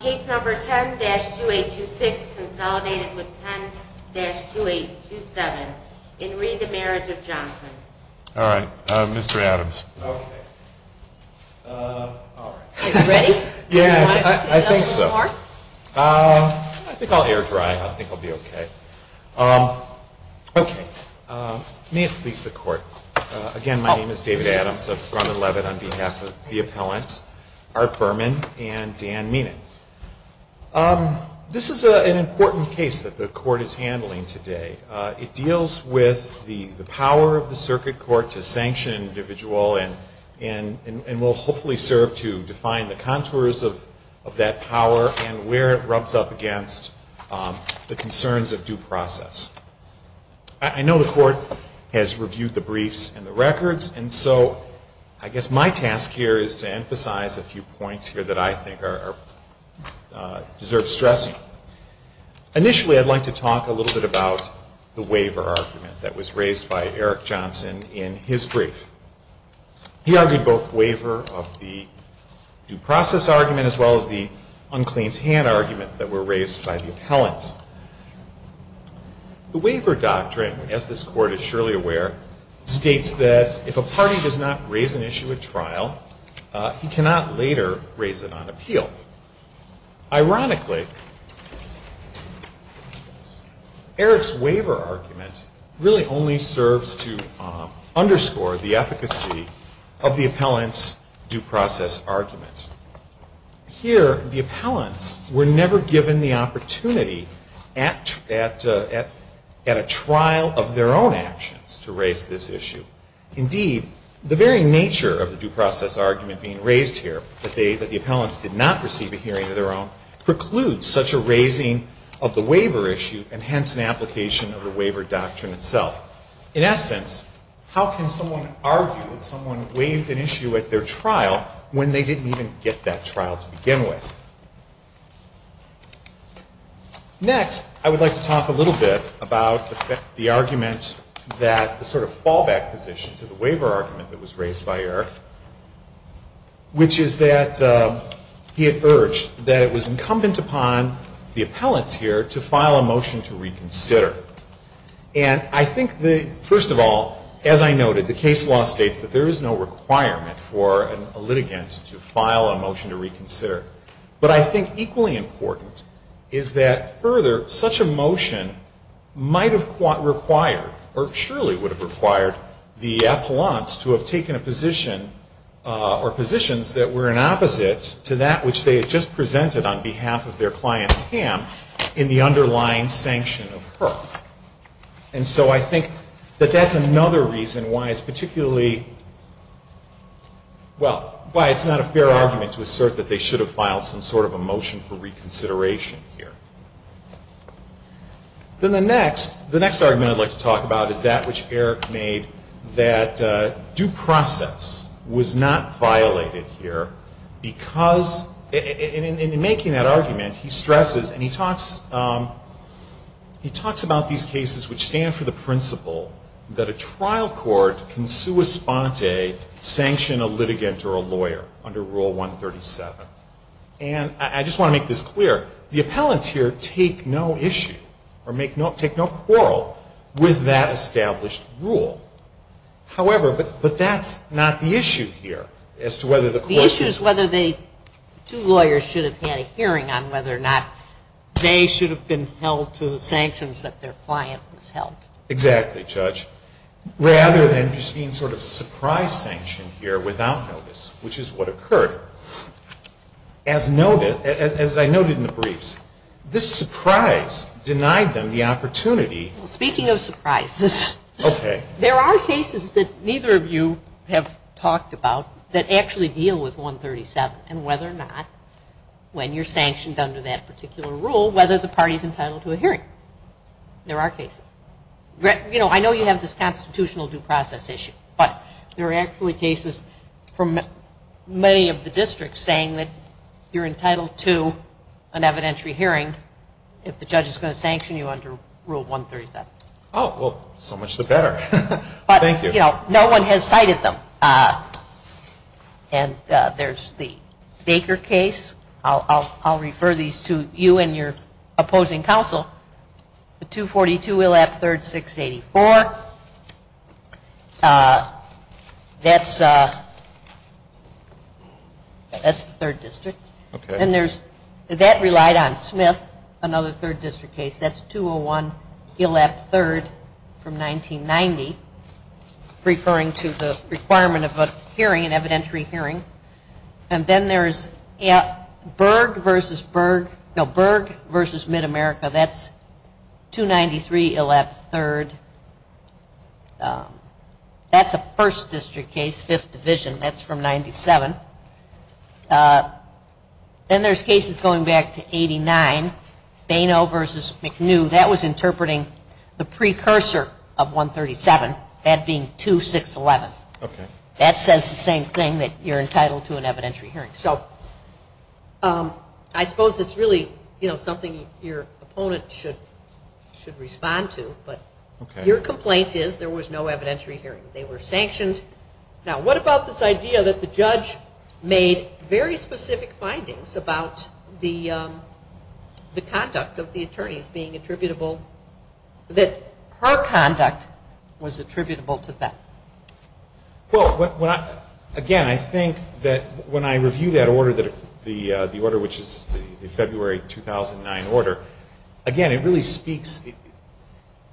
Case number 10-2826, consolidated with 10-2827, in re the Marriage of Johnson. All right, Mr. Adams. Okay. All right. Yeah, I think so. Do you want to say a little bit more? I think I'll air dry. I think I'll be okay. Okay. May it please the Court, again, my name is David Adams. on behalf of the appellants, Art Berman and Dan Meenan. This is an important case that the Court is handling today. It deals with the power of the circuit court to sanction an individual and will hopefully serve to define the contours of that power and where it rubs up against the concerns of due process. I know the Court has reviewed the briefs and the records, and so I guess my task here is to emphasize a few points here that I think deserve stressing. Initially, I'd like to talk a little bit about the waiver argument that was raised by Eric Johnson in his brief. He argued both waiver of the due process argument as well as the uncleans hand argument that were raised by the appellants. The waiver doctrine, as this Court is surely aware, states that if a party does not raise an issue at trial, he cannot later raise it on appeal. Ironically, Eric's waiver argument really only serves to underscore the efficacy of the appellant's due process argument. Here, the appellants were never given the opportunity at a trial of their own actions to raise this issue. Indeed, the very nature of the due process argument being raised here, that the appellants did not receive a hearing of their own, precludes such a raising of the waiver issue and hence an application of the waiver doctrine itself. In essence, how can someone argue that someone waived an issue at their trial when they didn't even get that trial to begin with? Next, I would like to talk a little bit about the argument that the sort of fallback position to the waiver argument that was raised by Eric, which is that he had urged that it was incumbent upon the appellants here to file a motion to reconsider. And I think, first of all, as I noted, the case law states that there is no requirement But I think equally important is that further, such a motion might have required or surely would have required the appellants to have taken a position or positions that were in opposite to that which they had just presented on behalf of their client Pam in the underlying sanction of her. And so I think that that's another reason why it's particularly, well, why it's not a fair argument to assert that they should have filed some sort of a motion for reconsideration here. Then the next argument I'd like to talk about is that which Eric made, that due process was not violated here because in making that argument, he stresses and he talks about these cases which stand for the principle that a trial court can sua sponte sanction a litigant or a lawyer under Rule 137. And I just want to make this clear. The appellants here take no issue or take no quarrel with that established rule. However, but that's not the issue here as to whether the court should. The issue is whether the two lawyers should have had a hearing on whether or not Exactly, Judge. Rather than just being sort of surprise sanctioned here without notice, which is what occurred, as noted, as I noted in the briefs, this surprise denied them the opportunity. Speaking of surprises. Okay. There are cases that neither of you have talked about that actually deal with 137 and whether or not when you're sanctioned under that particular rule, whether the party's entitled to a hearing. There are cases. You know, I know you have this constitutional due process issue, but there are actually cases from many of the districts saying that you're entitled to an evidentiary hearing if the judge is going to sanction you under Rule 137. Oh, well, so much the better. Thank you. But, you know, no one has cited them. And there's the Baker case. I'll refer these to you and your opposing counsel. The 242 Illap III, 684. That's the third district. Okay. And that relied on Smith, another third district case. That's 201 Illap III from 1990, referring to the requirement of a hearing, an evidentiary hearing. And then there's Berg v. MidAmerica. That's 293 Illap III. That's a first district case, 5th Division. That's from 97. Then there's cases going back to 89, Baino v. McNew. That was interpreting the precursor of 137, that being 2611. Okay. That says the same thing, that you're entitled to an evidentiary hearing. So I suppose it's really, you know, something your opponent should respond to, but your complaint is there was no evidentiary hearing. They were sanctioned. Now, what about this idea that the judge made very specific findings about the conduct of the attorneys being attributable, that her conduct was attributable to them? Well, again, I think that when I review that order, the order which is the February 2009 order, again, it really speaks.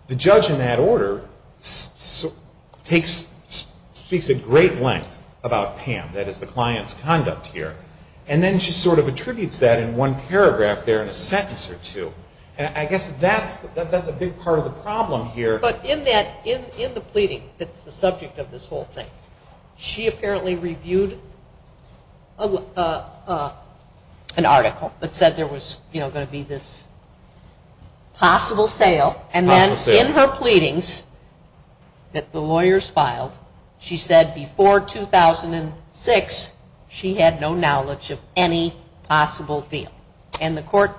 The judge in that order speaks at great length about PAM, that is the client's conduct here. And then she sort of attributes that in one paragraph there in a sentence or two. And I guess that's a big part of the problem here. But in the pleading that's the subject of this whole thing, she apparently reviewed an article that said there was, you know, going to be this possible sale. And then in her pleadings that the lawyers filed, she said before 2006, she had no knowledge of any possible deal. And the court,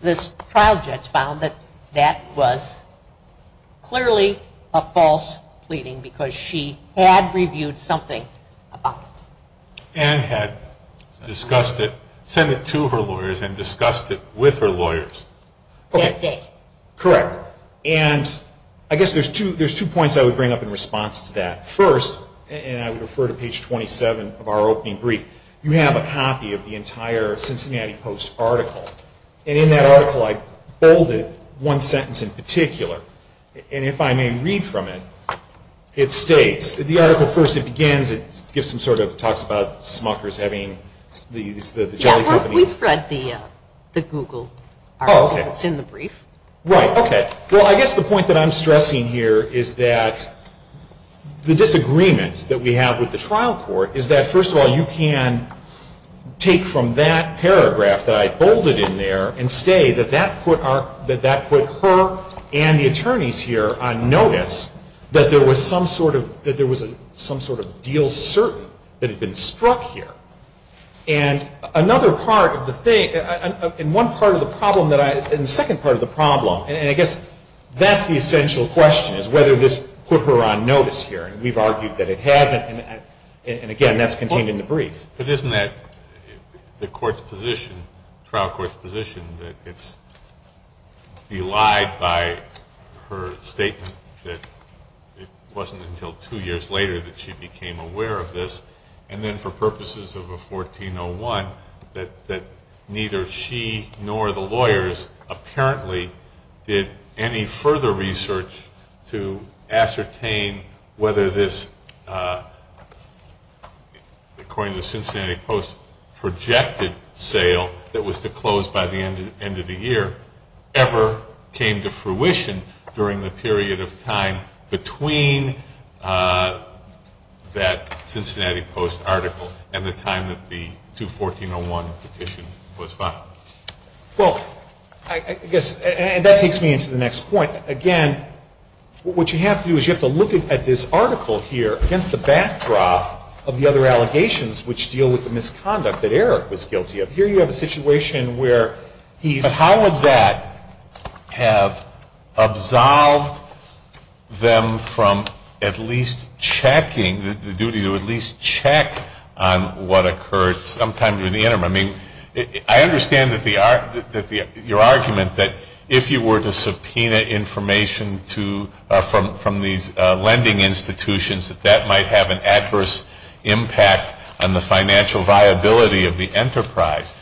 this trial judge, found that that was clearly a false pleading because she had reviewed something about it. And had discussed it, sent it to her lawyers, and discussed it with her lawyers. That day. Correct. And I guess there's two points I would bring up in response to that. First, and I would refer to page 27 of our opening brief, you have a copy of the entire Cincinnati Post article. And in that article I bolded one sentence in particular. And if I may read from it, it states, the article, first it begins, it gives some sort of talks about smuckers having the jelly company. Yeah, we've read the Google article. It's in the brief. Right. Okay. Well, I guess the point that I'm stressing here is that the disagreement that we have with the trial court is that, first of all, you can take from that paragraph that I bolded in there and say that that put her and the attorneys here on notice that there was some sort of deal certain that had been struck here. And another part of the thing, and one part of the problem that I, and the second part of the problem, and I guess that's the essential question is whether this put her on notice here. And we've argued that it hasn't. And, again, that's contained in the brief. But isn't that the court's position, trial court's position, that it's belied by her statement that it wasn't until two years later that she became aware of this? And then for purposes of a 1401, that neither she nor the lawyers apparently did any further research to ascertain whether this, according to the Cincinnati Post, projected sale that was to close by the end of the year ever came to fruition during the period of time between that Cincinnati Post article and the time that the 214.01 petition was filed. Well, I guess, and that takes me into the next point. Again, what you have to do is you have to look at this article here against the backdrop of the other allegations which deal with the misconduct that Eric was guilty of. Here you have a situation where he's ---- But how would that have absolved them from at least checking, the duty to at least check on what occurred sometime during the interim? I mean, I understand your argument that if you were to subpoena information from these lending institutions, that that might have an adverse impact on the financial viability of the enterprise.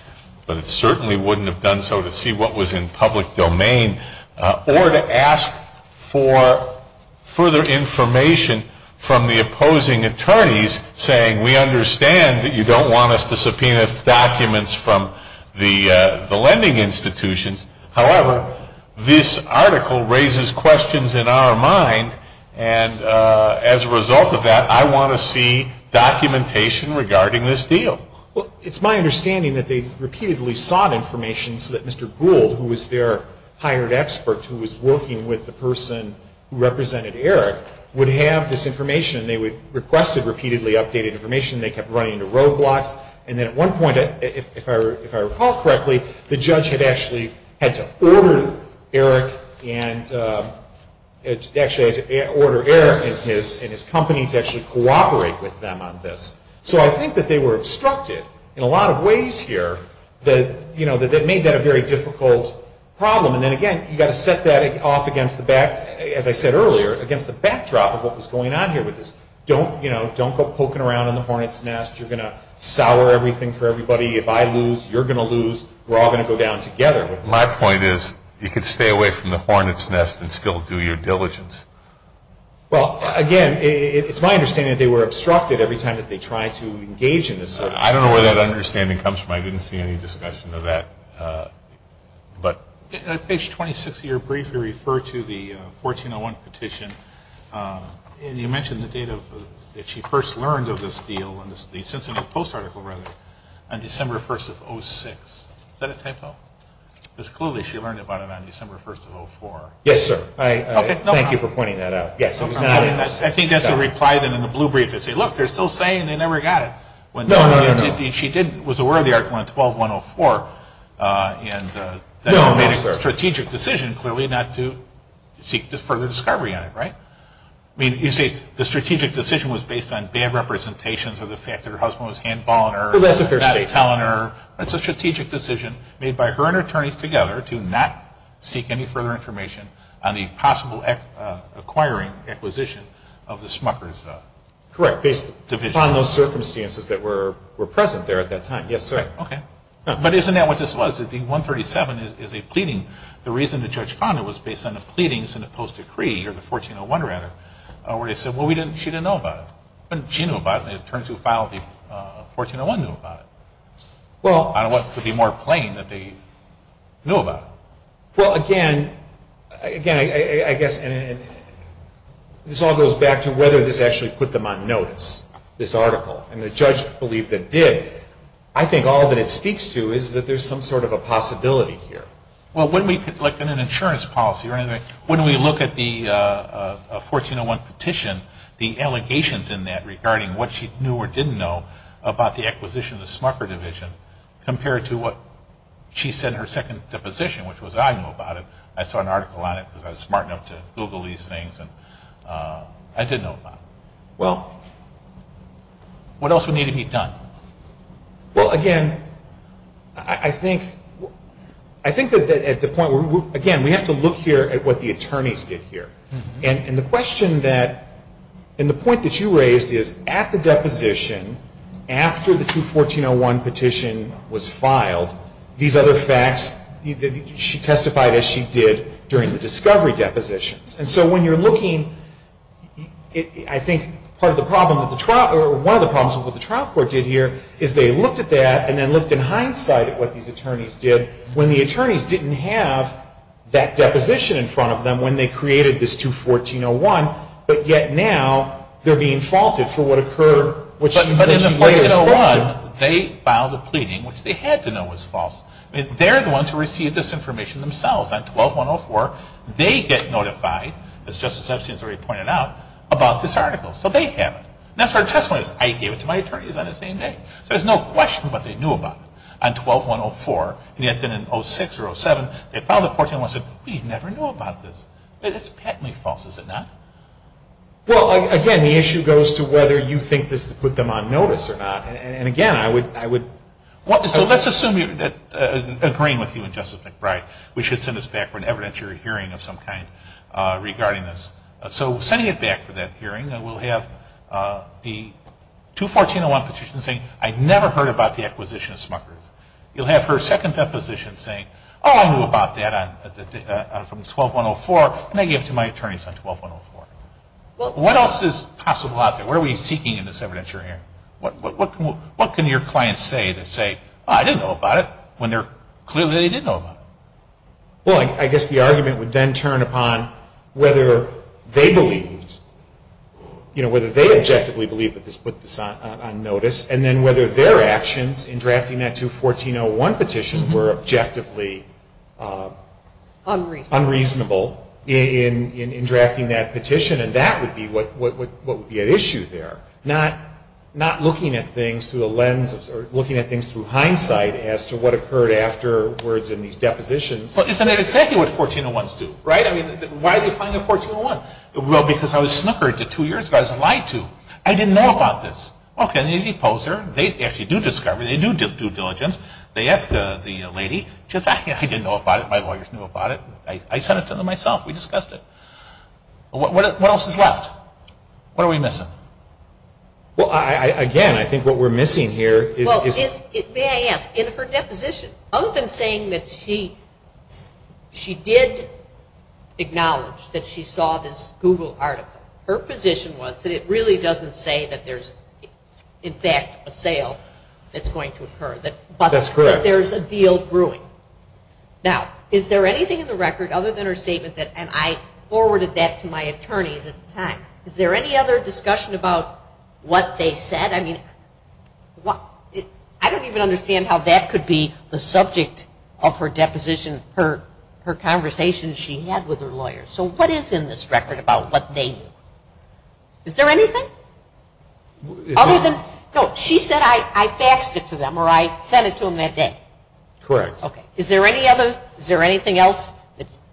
But it certainly wouldn't have done so to see what was in public domain or to ask for further information from the opposing attorneys saying, we understand that you don't want us to subpoena documents from the lending institutions. However, this article raises questions in our mind. And as a result of that, I want to see documentation regarding this deal. Well, it's my understanding that they repeatedly sought information so that Mr. Gould, who was their hired expert, who was working with the person who represented Eric, would have this information. They requested repeatedly updated information. They kept running into roadblocks. And then at one point, if I recall correctly, the judge had actually had to order Eric and his company to actually cooperate with them on this. So I think that they were obstructed in a lot of ways here that made that a very difficult problem. And then again, you've got to set that off against the back, as I said earlier, against the backdrop of what was going on here with this. Don't go poking around in the hornet's nest. You're going to sour everything for everybody. If I lose, you're going to lose. We're all going to go down together. My point is you could stay away from the hornet's nest and still do your diligence. Well, again, it's my understanding that they were obstructed every time that they tried to engage in this. I don't know where that understanding comes from. I didn't see any discussion of that. Page 26 of your brief, you refer to the 1401 petition. And you mentioned the date that she first learned of this deal, the Cincinnati Post article, rather, on December 1st of 06. Is that a typo? Because clearly she learned about it on December 1st of 04. Yes, sir. Thank you for pointing that out. I think that's a reply then in the blue brief. They say, look, they're still saying they never got it. No, no, no. She was aware of the article on 12-104. No, no, sir. And that made a strategic decision, clearly, not to seek further discovery on it, right? I mean, you say the strategic decision was based on bad representations or the fact that her husband was handballing her. That's a fair statement. Not telling her. That's a strategic decision made by her and her attorneys together to not seek any further information on the possible acquiring, acquisition of the Smucker's division. Correct. Based upon those circumstances that were present there at that time. Yes, sir. Okay. But isn't that what this was? The 137 is a pleading. The reason the judge found it was based on the pleadings in the Post Decree, or the 1401, rather, where they said, well, she didn't know about it. She knew about it, and the attorneys who filed the 1401 knew about it. Well. On what could be more plain that they knew about it. Well, again, I guess this all goes back to whether this actually put them on notice, this article. And the judge believed it did. I think all that it speaks to is that there's some sort of a possibility here. Well, when we look at an insurance policy or anything, when we look at the 1401 petition, the allegations in that regarding what she knew or didn't know about the acquisition of the Smucker's division compared to what she said in her second deposition, which was I knew about it, I saw an article on it because I was smart enough to Google these things, and I didn't know about it. Well, what else would need to be done? Well, again, I think that at the point where, again, we have to look here at what the attorneys did here. And the question that, and the point that you raised is at the deposition, after the 21401 petition was filed, these other facts, she testified as she did during the discovery depositions. And so when you're looking, I think part of the problem, or one of the problems of what the trial court did here is they looked at that and then looked in hindsight at what these attorneys did when the attorneys didn't have that deposition in front of them when they created this 21401, but yet now they're being faulted for what occurred. But in the 1401, they filed a pleading which they had to know was false. They're the ones who received this information themselves. On 12-104, they get notified, as Justice Epstein has already pointed out, about this article. So they have it. And that's where the testimony is. I gave it to my attorneys on the same day. So there's no question what they knew about it on 12-104. And yet then in 06 or 07, they filed a 1401 and said, We never knew about this. It's patently false, is it not? Well, again, the issue goes to whether you think this put them on notice or not. And, again, I would – So let's assume that, agreeing with you and Justice McBride, we should send this back for an evidentiary hearing of some kind regarding this. So sending it back for that hearing, we'll have the 21401 petition saying, I never heard about the acquisition of Smucker's. You'll have her second deposition saying, Oh, I knew about that from 12-104, and I gave it to my attorneys on 12-104. What else is possible out there? What are we seeking in this evidentiary hearing? What can your clients say that say, Oh, I didn't know about it, when clearly they did know about it? Well, I guess the argument would then turn upon whether they believed, you know, whether they objectively believed that this put this on notice, and then whether their actions in drafting that 21401 petition were objectively unreasonable in drafting that petition. And that would be what would be at issue there, not looking at things through the lens –– of what occurred afterwards in these depositions. But isn't that exactly what 1401s do, right? I mean, why do you find a 1401? Well, because I was Smucker two years ago. I didn't know about this. Okay, the deposer, they actually do discovery. They do due diligence. They ask the lady, I didn't know about it. My lawyers knew about it. I sent it to them myself. We discussed it. What else is left? What are we missing? Well, again, I think what we're missing here is –– may I ask, in her deposition, other than saying that she did acknowledge that she saw this Google article, her position was that it really doesn't say that there's, in fact, a sale that's going to occur, but that there's a deal brewing. Now, is there anything in the record other than her statement, and I forwarded that to my attorneys at the time, is there any other discussion about what they said? I don't even understand how that could be the subject of her deposition, her conversation she had with her lawyers. So what is in this record about what they knew? Is there anything? No, she said, I faxed it to them, or I sent it to them that day. Correct. Okay, is there anything else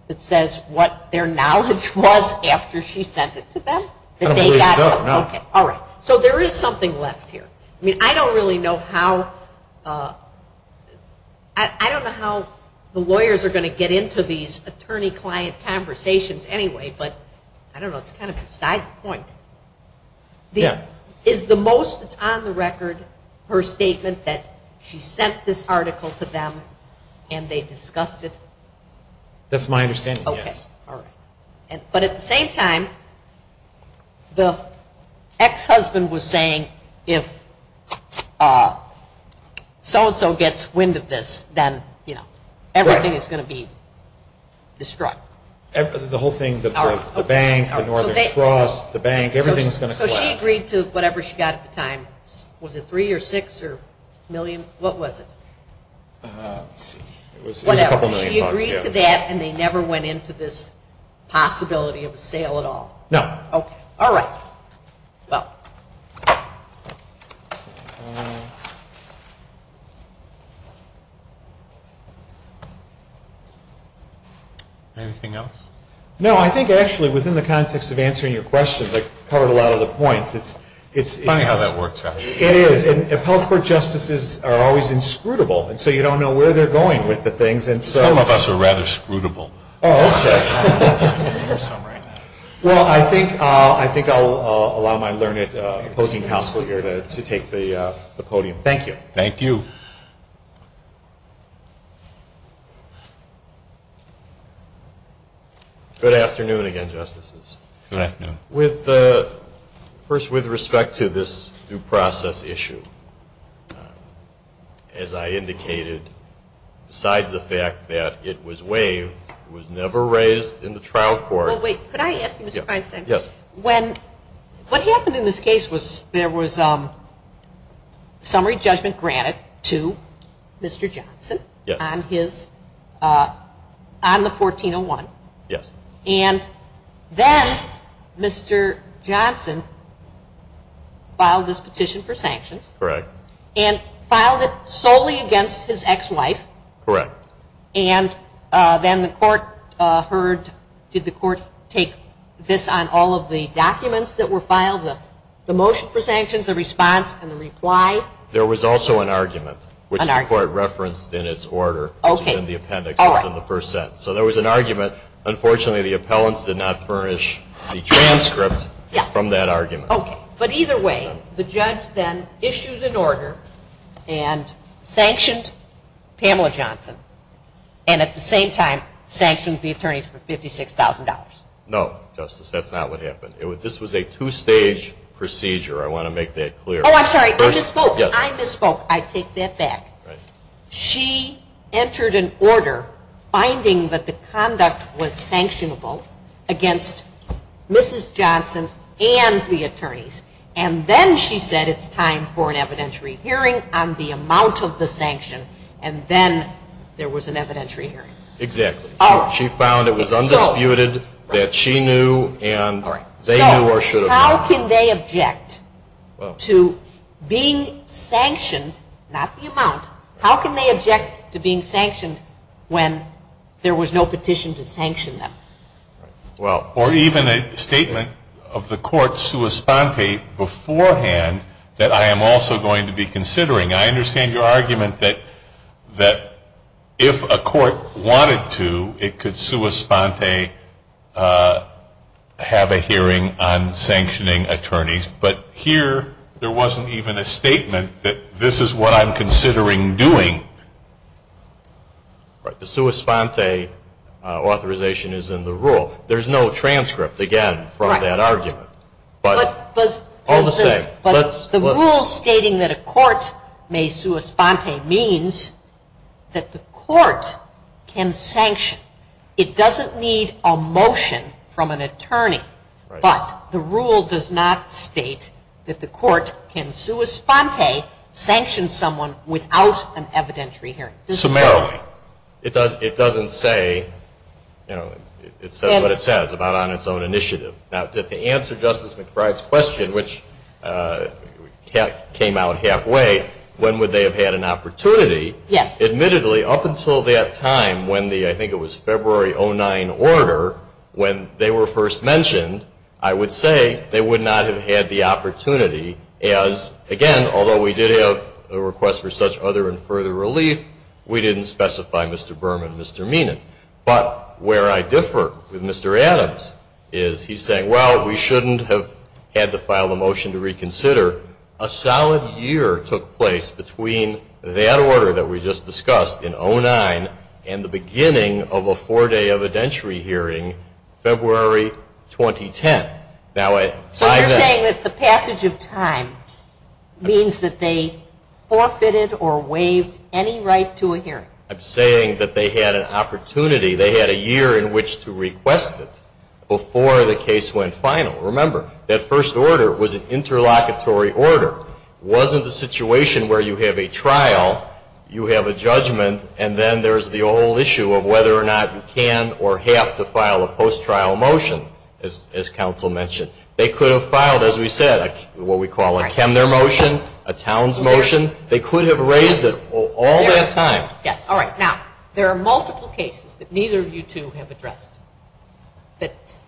that says what their knowledge was after she sent it to them? I don't believe so, no. Okay, all right. So there is something left here. I mean, I don't really know how – I don't know how the lawyers are going to get into these attorney-client conversations anyway, but I don't know, it's kind of beside the point. Is the most that's on the record her statement that she sent this article to them and they discussed it? That's my understanding, yes. Okay, all right. But at the same time, the ex-husband was saying if so-and-so gets wind of this, then, you know, everything is going to be destroyed. The whole thing, the bank, the Northern Trust, the bank, everything is going to collapse. So she agreed to whatever she got at the time. Was it three or six or a million? What was it? It was a couple million bucks. So she agreed to that and they never went into this possibility of a sale at all? No. Okay, all right. Anything else? No, I think actually within the context of answering your questions, I covered a lot of the points. It's funny how that works out. It is. And appellate court justices are always inscrutable, and so you don't know where they're going with the things. Some of us are rather scrutable. Oh, okay. Well, I think I'll allow my learned opposing counsel here to take the podium. Thank you. Thank you. Good afternoon again, Justices. Good afternoon. First, with respect to this due process issue, as I indicated, besides the fact that it was waived, it was never raised in the trial court. Well, wait, could I ask you, Mr. Feinstein? Yes. What happened in this case was there was summary judgment granted to Mr. Johnson on the 1401. Yes. And then Mr. Johnson filed this petition for sanctions. Correct. And filed it solely against his ex-wife. Correct. And then the court heard, did the court take this on all of the documents that were filed, the motion for sanctions, the response, and the reply? There was also an argument, which the court referenced in its order, which is in the appendix, which is in the first sentence. So there was an argument. Unfortunately, the appellants did not furnish the transcript from that argument. Okay. But either way, the judge then issued an order and sanctioned Pamela Johnson and at the same time sanctioned the attorneys for $56,000. No, Justice. That's not what happened. This was a two-stage procedure. I want to make that clear. Oh, I'm sorry. I misspoke. I misspoke. I take that back. She entered an order finding that the conduct was sanctionable against Mrs. Johnson and the attorneys, and then she said it's time for an evidentiary hearing on the amount of the sanction, and then there was an evidentiary hearing. Exactly. She found it was undisputed that she knew and they knew or should have known. How can they object to being sanctioned, not the amount, how can they object to being sanctioned when there was no petition to sanction them? Well, or even a statement of the court sua sponte beforehand that I am also going to be considering. I understand your argument that if a court wanted to, it could sua sponte have a hearing on sanctioning attorneys, but here there wasn't even a statement that this is what I'm considering doing. Right. The sua sponte authorization is in the rule. There's no transcript, again, from that argument, but all the same. But the rule stating that a court may sua sponte means that the court can sanction. It doesn't need a motion from an attorney, but the rule does not state that the court can sua sponte, sanction someone without an evidentiary hearing. Summarily, it doesn't say, you know, it says what it says about on its own initiative. Now, to answer Justice McBride's question, which came out halfway, when would they have had an opportunity? Yes. Admittedly, up until that time when the, I think it was February 09 order, when they were first mentioned, I would say they would not have had the opportunity as, again, although we did have a request for such other and further relief, we didn't specify Mr. Berman, Mr. Meenan. But where I differ with Mr. Adams is he's saying, well, we shouldn't have had to file a motion to reconsider. A solid year took place between that order that we just discussed in 09 and the beginning of a four-day evidentiary hearing, February 2010. So you're saying that the passage of time means that they forfeited or waived any right to a hearing? I'm saying that they had an opportunity. They had a year in which to request it before the case went final. Remember, that first order was an interlocutory order. It wasn't a situation where you have a trial, you have a judgment, and then there's the whole issue of whether or not you can or have to file a post-trial motion, as counsel mentioned. They could have filed, as we said, what we call a Chemner motion, a Towns motion. They could have raised it all that time. Yes, all right. Now, there are multiple cases that neither of you two have addressed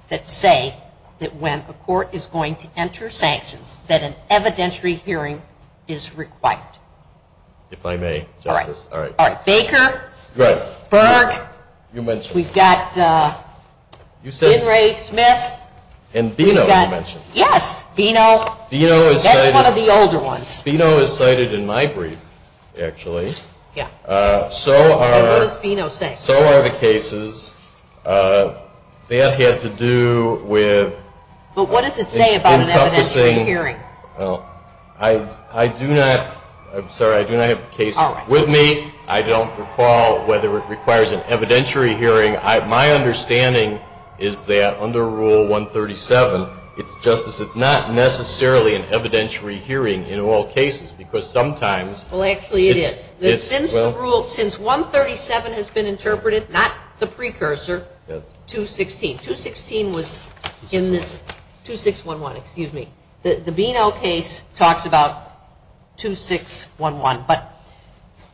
that say that when a court is going to enter sanctions, that an evidentiary hearing is required. If I may, Justice. All right. Baker. Right. Burke. You mentioned. We've got Henry Smith. And Bino, you mentioned. Yes, Bino. That's one of the older ones. Bino is cited in my brief, actually. Yes. So are. And what does Bino say? So are the cases. That had to do with. But what does it say about an evidentiary hearing? Well, I do not. I'm sorry. I do not have the case with me. All right. I don't recall whether it requires an evidentiary hearing. My understanding is that under Rule 137, Justice, it's not necessarily an evidentiary hearing in all cases because sometimes. Well, actually it is. It's. Since the rule. Since 137 has been interpreted, not the precursor. Yes. 216 was in this. 2611. 2611, excuse me. The Bino case talks about 2611. But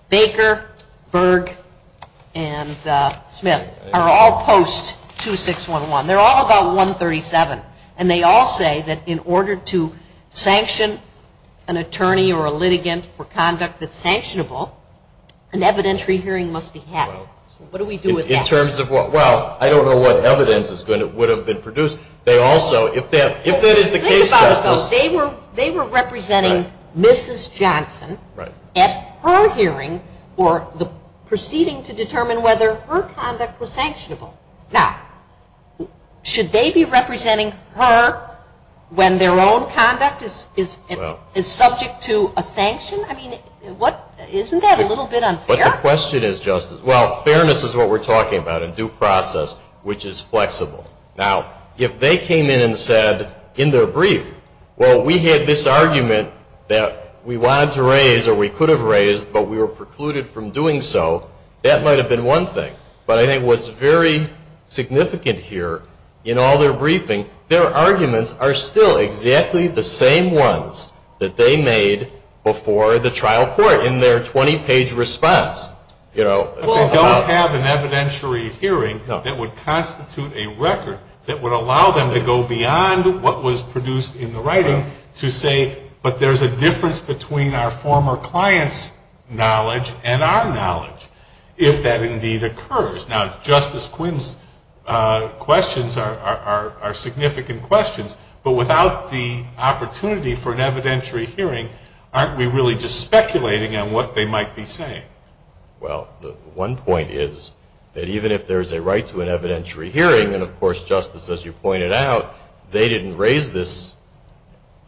Baker, Burke, and Smith are all post-2611. They're all about 137. And they all say that in order to sanction an attorney or a litigant for conduct that's sanctionable, an evidentiary hearing must be held. So what do we do with that? In terms of what? Well, I don't know what evidence would have been produced. They also, if that is the case, Justice. Think about it, though. They were representing Mrs. Johnson at her hearing or the proceeding to determine whether her conduct was sanctionable. Now, should they be representing her when their own conduct is subject to a sanction? I mean, isn't that a little bit unfair? But the question is, Justice, well, fairness is what we're talking about in due process, which is flexible. Now, if they came in and said in their brief, well, we had this argument that we wanted to raise or we could have raised, but we were precluded from doing so, that might have been one thing. But I think what's very significant here in all their briefing, their arguments are still exactly the same ones that they made before the trial court in their 20-page response. If they don't have an evidentiary hearing, that would constitute a record that would allow them to go beyond what was produced in the writing to say, but there's a difference between our former client's knowledge and our knowledge, if that indeed occurs. Now, Justice Quinn's questions are significant questions, but without the opportunity for an evidentiary hearing, aren't we really just speculating on what they might be saying? Well, one point is that even if there's a right to an evidentiary hearing, and of course, Justice, as you pointed out, they didn't raise this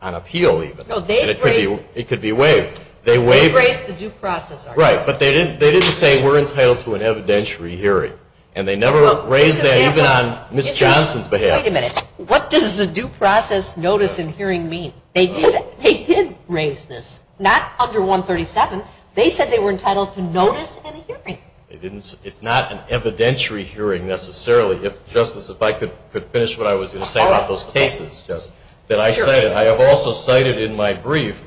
on appeal even. No, they raised it. It could be waived. They raised the due process argument. Right, but they didn't say we're entitled to an evidentiary hearing, and they never raised that even on Ms. Johnson's behalf. Wait a minute. What does the due process notice and hearing mean? They did raise this. Not under 137. They said they were entitled to notice and hearing. It's not an evidentiary hearing necessarily. Justice, if I could finish what I was going to say about those cases. I have also cited in my brief,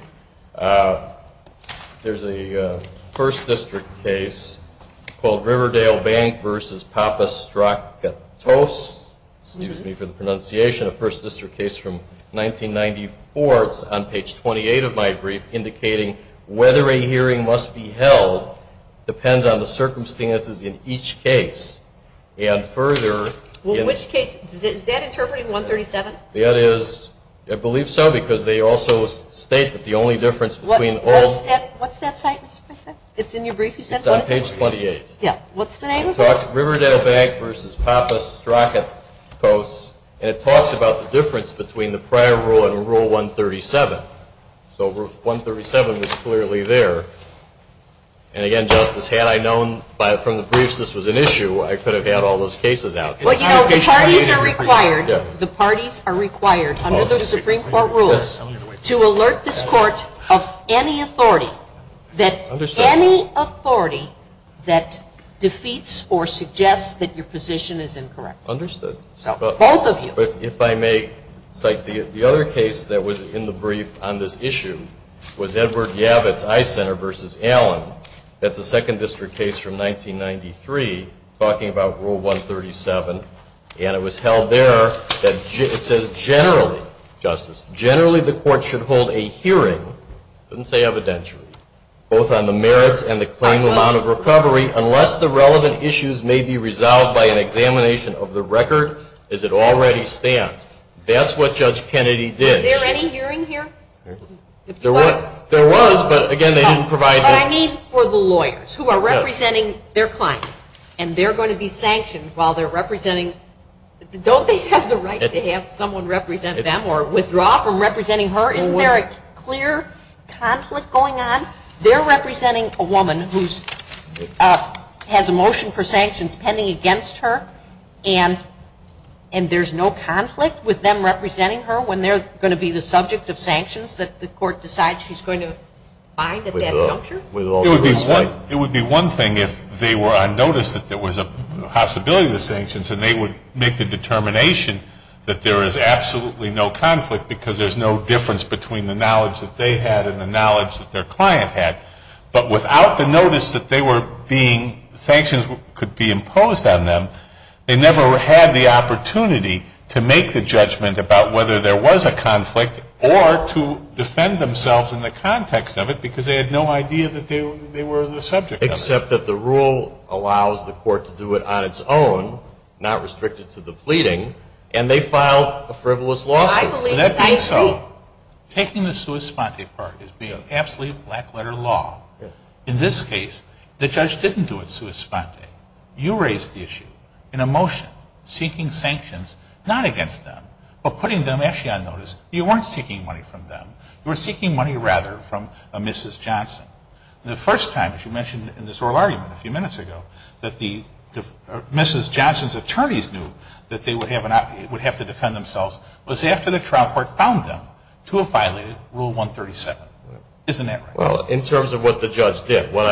there's a First District case called Riverdale Bank v. Papastrakatos, excuse me for the pronunciation, a First District case from 1994. It's on page 28 of my brief, indicating whether a hearing must be held depends on the circumstances in each case. In which case? Is that interpreting 137? It is, I believe so, because they also state that the only difference between all of them. What's that citation? It's in your brief? It's on page 28. Yeah. What's the name of it? Riverdale Bank v. Papastrakatos, and it talks about the difference between the prior rule and Rule 137. So 137 was clearly there, and again, Justice, had I known from the briefs this was an issue, I could have had all those cases out. Well, you know, the parties are required under the Supreme Court rules to alert this Court of any authority that any authority that defeats or suggests that your position is incorrect. Understood. Both of you. But if I may cite the other case that was in the brief on this issue was Edward Yavitz I Center v. Allen. That's a Second District case from 1993 talking about Rule 137, and it was held there that it says generally, Justice, generally the Court should hold a hearing, it doesn't say evidentiary, both on the merits and the claimed amount of recovery unless the relevant issues may be resolved by an examination of the record as it already stands. That's what Judge Kennedy did. Was there any hearing here? There was, but again, they didn't provide that. What I mean for the lawyers who are representing their clients, and they're going to be sanctioned while they're representing, don't they have the right to have someone represent them or withdraw from representing her? Isn't there a clear conflict going on? They're representing a woman who has a motion for sanctions pending against her, and there's no conflict with them representing her when they're going to be the subject of sanctions that the Court decides she's going to find at that juncture? It would be one thing if they were on notice that there was a possibility of the sanctions and they would make the determination that there is absolutely no conflict because there's no difference between the knowledge that they had and the knowledge that their client had. But without the notice that they were being, sanctions could be imposed on them, they never had the opportunity to make the judgment about whether there was a conflict or to defend themselves in the context of it because they had no idea that they were the subject of it. Except that the rule allows the Court to do it on its own, not restricted to the pleading, and they filed a frivolous lawsuit. I believe that I agree. Taking the sua sponte part is being absolutely black letter law. In this case, the judge didn't do it sua sponte. You raised the issue in a motion seeking sanctions, not against them, but putting them actually on notice. You weren't seeking money from them. You were seeking money, rather, from Mrs. Johnson. The first time, as you mentioned in this oral argument a few minutes ago, that Mrs. Johnson's attorneys knew that they would have to defend themselves was after the trial court found them to have violated Rule 137. Isn't that right? Well, in terms of what the judge did. What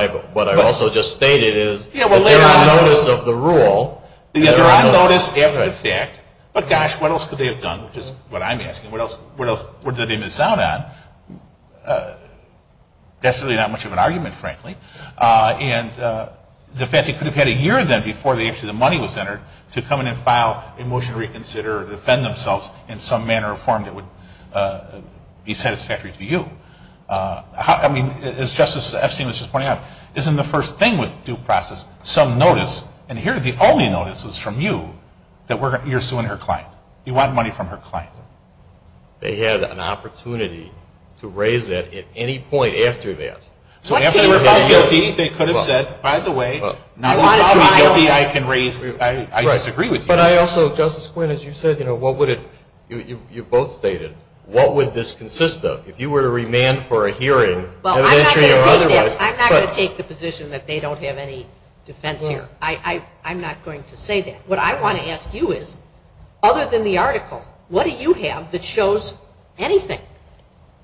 I also just stated is that they were on notice of the rule. They were on notice after the fact. But, gosh, what else could they have done, which is what I'm asking. What else would they miss out on? That's really not much of an argument, frankly. And the fact they could have had a year then before the issue of the money was entered to come in and file a motion to reconsider or defend themselves in some manner or form that would be satisfactory to you. I mean, as Justice Epstein was just pointing out, isn't the first thing with due process some notice? And here the only notice is from you that you're suing her client. You want money from her client. They had an opportunity to raise that at any point after that. So after they were found guilty, they could have said, by the way, now that you're found guilty, I can raise, I disagree with you. But I also, Justice Quinn, as you said, what would it, you both stated, what would this consist of? If you were to remand for a hearing, evidentiary or otherwise. I'm not going to take the position that they don't have any defense here. I'm not going to say that. What I want to ask you is, other than the article, what do you have that shows anything?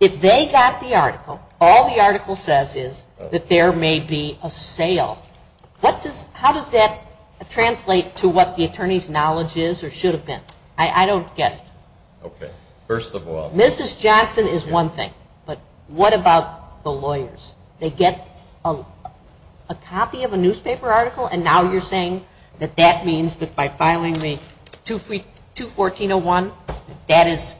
If they got the article, all the article says is that there may be a sale. How does that translate to what the attorney's knowledge is or should have been? I don't get it. Okay. First of all. Mrs. Johnson is one thing. But what about the lawyers? They get a copy of a newspaper article, and now you're saying that that means that by filing the 214-01, that is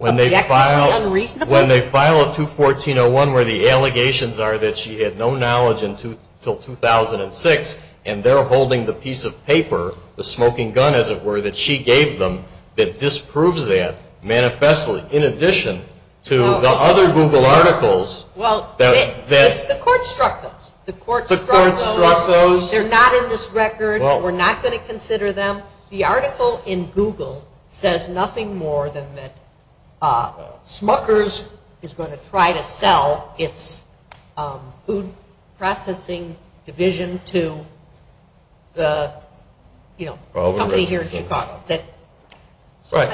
objectively unreasonable? When they file a 214-01 where the allegations are that she had no knowledge until 2006, and they're holding the piece of paper, the smoking gun, as it were, that she gave them that disproves that manifestly, in addition to the other Google articles. The court struck those. The court struck those. They're not in this record. We're not going to consider them. The article in Google says nothing more than that Smucker's is going to try to sell its food processing division to the company here in Chicago. Right.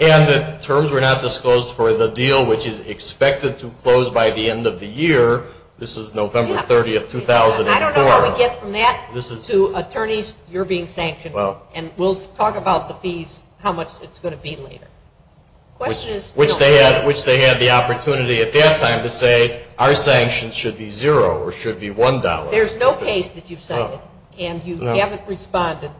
And the terms were not disclosed for the deal, which is expected to close by the end of the year. This is November 30, 2004. I don't know how we get from that to attorneys, you're being sanctioned, and we'll talk about the fees, how much it's going to be later. Which they had the opportunity at that time to say our sanctions should be zero or should be $1. There's no case that you've cited, and you haven't responded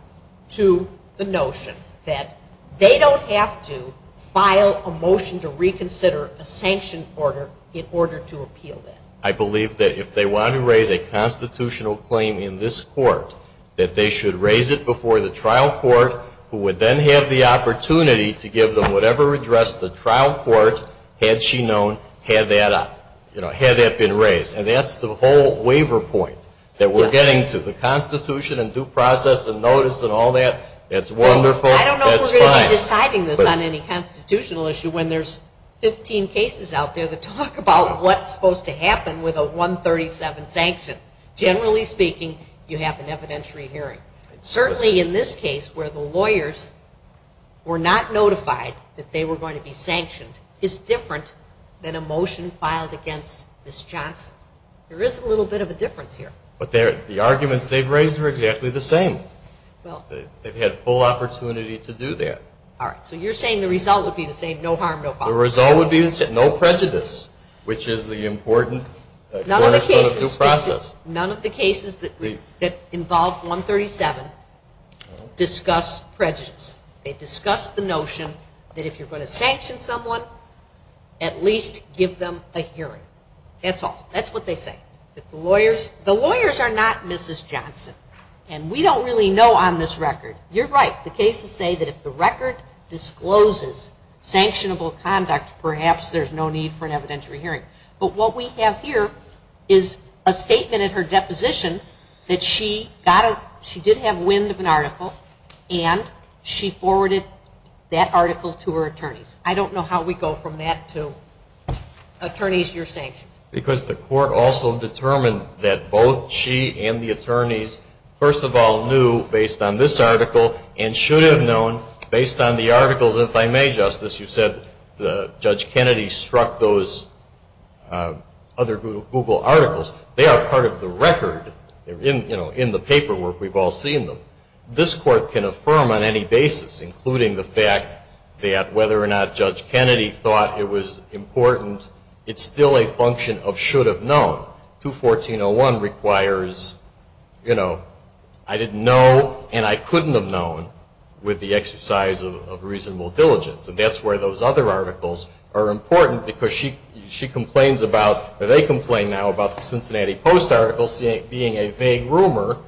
to the notion that they don't have to file a motion to reconsider a sanction order in order to appeal that. I believe that if they want to raise a constitutional claim in this court, that they should raise it before the trial court, who would then have the opportunity to give them whatever address the trial court had she known had that been raised. And that's the whole waiver point. That we're getting to the Constitution and due process and notice and all that. It's wonderful. I don't know if we're going to be deciding this on any constitutional issue when there's 15 cases out there that talk about what's supposed to happen with a 137 sanction. Generally speaking, you have an evidentiary hearing. Certainly in this case where the lawyers were not notified that they were going to be sanctioned is different than a motion filed against Ms. Johnson. There is a little bit of a difference here. But the arguments they've raised are exactly the same. They've had full opportunity to do that. All right. So you're saying the result would be the same, no harm, no fault. The result would be no prejudice, which is the important cornerstone of due process. None of the cases that involve 137 discuss prejudice. They discuss the notion that if you're going to sanction someone, at least give them a hearing. That's all. That's what they say. The lawyers are not Mrs. Johnson. And we don't really know on this record. You're right. The cases say that if the record discloses sanctionable conduct, perhaps there's no need for an evidentiary hearing. But what we have here is a statement in her deposition that she did have wind of an article and she forwarded that article to her attorneys. I don't know how we go from that to attorneys, you're sanctioned. Because the court also determined that both she and the attorneys, first of all, knew based on this article and should have known based on the articles. If I may, Justice, you said Judge Kennedy struck those other Google articles. They are part of the record in the paperwork. We've all seen them. This court can affirm on any basis, including the fact that whether or not Judge Kennedy thought it was important, it's still a function of should have known. 214.01 requires, you know, I didn't know and I couldn't have known with the exercise of reasonable diligence. And that's where those other articles are important because she complains about, or they complain now about the Cincinnati Post article being a vague rumor,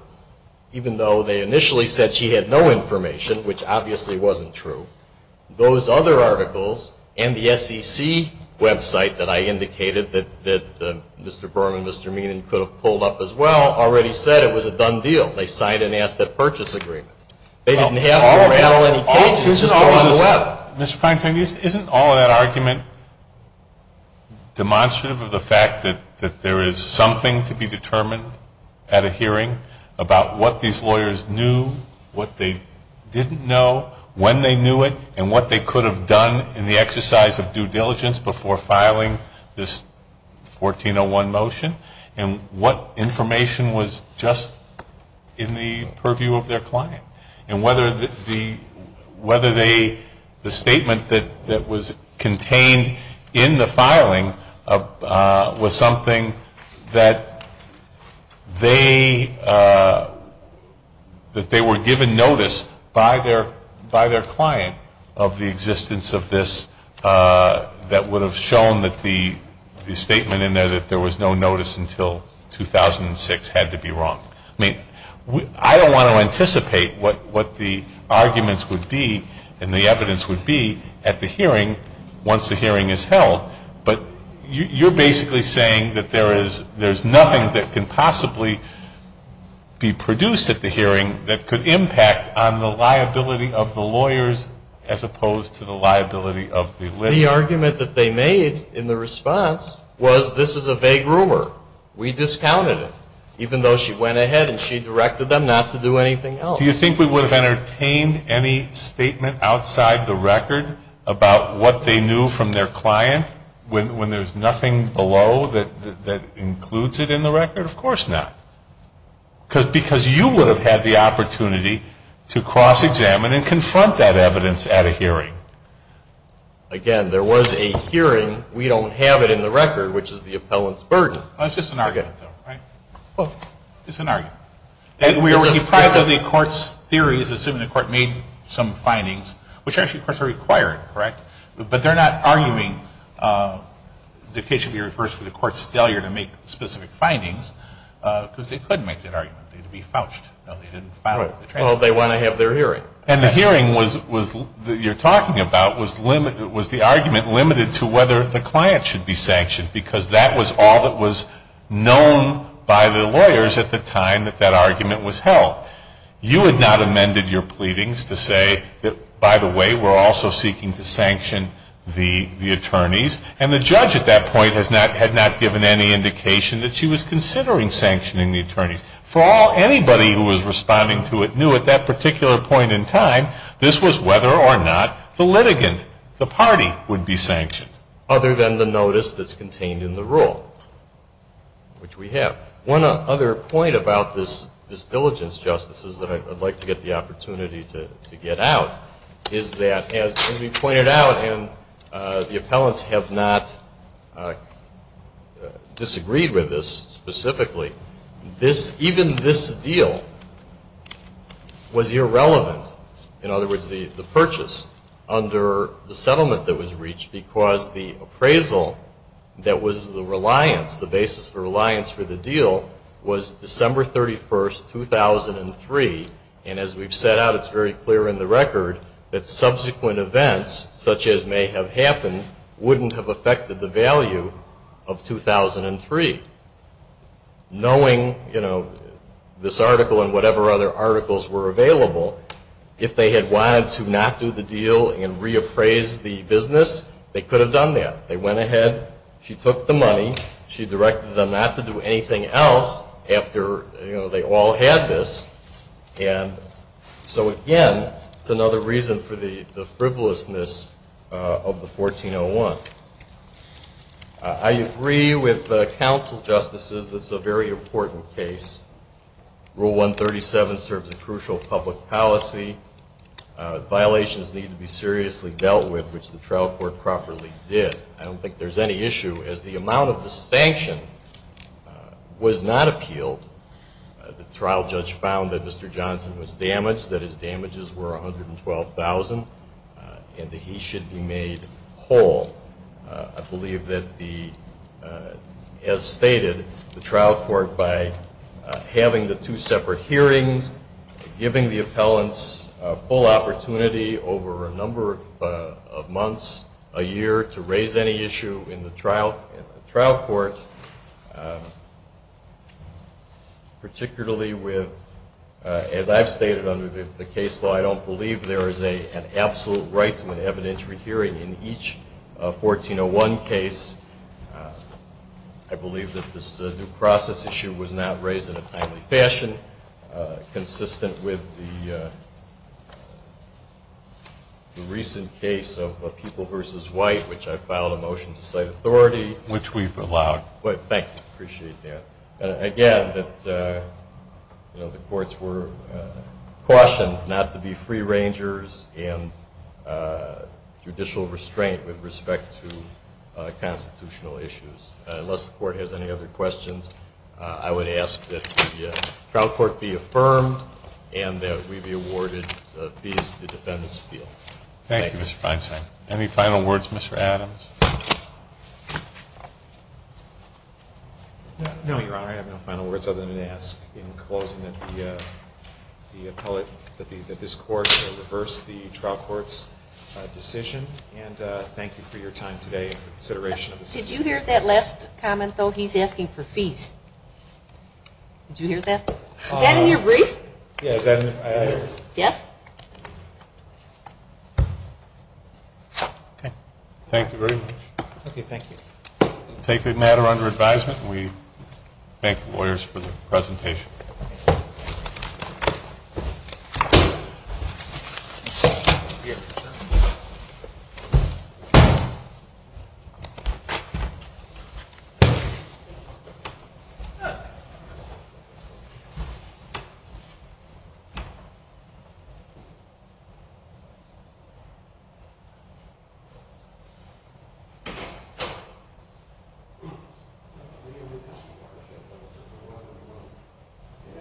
even though they initially said she had no information, which obviously wasn't true. Those other articles and the SEC website that I indicated that Mr. Berman, Mr. Meenan could have pulled up as well, already said it was a done deal. They signed an asset purchase agreement. They didn't have to rattle any pages. It's just all on the web. Mr. Feinstein, isn't all of that argument demonstrative of the fact that there is something to be determined at a hearing about what these lawyers knew, what they didn't know, when they knew it, and what they could have done in the exercise of due diligence before filing this 1401 motion, and what information was just in the purview of their client? And whether the statement that was contained in the filing was something that they were given notice by their client of the existence of this that would have shown that the statement in there that there was no notice until 2006 had to be wrong. I mean, I don't want to anticipate what the arguments would be and the evidence would be at the hearing once the hearing is held, but you're basically saying that there is nothing that can possibly be produced at the hearing that could impact on the liability of the lawyers as opposed to the liability of the list. The argument that they made in the response was this is a vague rumor. We discounted it, even though she went ahead and she directed them not to do anything else. Do you think we would have entertained any statement outside the record about what they knew from their client? When there's nothing below that includes it in the record? Of course not, because you would have had the opportunity to cross-examine and confront that evidence at a hearing. Again, there was a hearing. We don't have it in the record, which is the appellant's burden. It's just an argument, though, right? Well, it's an argument. And we were deprived of the court's theories, assuming the court made some findings, which actually, of course, are required, correct? But they're not arguing the case should be reversed for the court's failure to make specific findings, because they could make that argument. They'd be fouched. No, they didn't foul it. Well, they want to have their hearing. And the hearing you're talking about was the argument limited to whether the client should be sanctioned, because that was all that was known by the lawyers at the time that that argument was held. You had not amended your pleadings to say that, by the way, we're also seeking to sanction the attorneys. And the judge at that point had not given any indication that she was considering sanctioning the attorneys. For all anybody who was responding to it knew at that particular point in time, this was whether or not the litigant, the party, would be sanctioned. Other than the notice that's contained in the rule, which we have. One other point about this diligence, Justice, is that I'd like to get the opportunity to get out, is that, as we pointed out, and the appellants have not disagreed with this specifically, even this deal was irrelevant, in other words, the purchase, under the settlement that was reached, because the appraisal that was the reliance, the basis for reliance for the deal, was December 31st, 2003. And as we've set out, it's very clear in the record that subsequent events, such as may have happened, wouldn't have affected the value of 2003. Knowing, you know, this article and whatever other articles were available, if they had wanted to not do the deal and reappraise the business, they could have done that. They went ahead. She took the money. She directed them not to do anything else after, you know, they all had this. And so, again, it's another reason for the frivolousness of the 1401. I agree with the counsel, Justices, this is a very important case. Rule 137 serves a crucial public policy. Violations need to be seriously dealt with, which the trial court properly did. I don't think there's any issue. As the amount of the sanction was not appealed, the trial judge found that Mr. Johnson was damaged, that his damages were $112,000, and that he should be made whole. I believe that the, as stated, the trial court, by having the two separate hearings, giving the appellants a full opportunity over a number of months, a year, to raise any issue in the trial court, particularly with, as I've stated under the case law, I don't believe there is an absolute right to an evidentiary hearing in each 1401 case. I believe that this new process issue was not raised in a timely fashion, consistent with the recent case of People v. White, which I filed a motion to cite authority. Which we've allowed. Thank you. Appreciate that. Again, the courts were cautioned not to be free rangers and judicial restraint with respect to constitutional issues. Unless the court has any other questions, I would ask that the trial court be affirmed and that we be awarded fees to defend this appeal. Thank you, Mr. Feinstein. Any final words, Mr. Adams? No, Your Honor. I have no final words other than to ask in closing that the appellate, that this court reverse the trial court's decision. And thank you for your time today and for consideration of this issue. Did you hear that last comment, though? He's asking for fees. Did you hear that? Is that in your brief? Yeah, is that in it? Yes. Okay. Thank you very much. Okay, thank you. We'll take the matter under advisement. We thank the lawyers for the presentation. Thank you.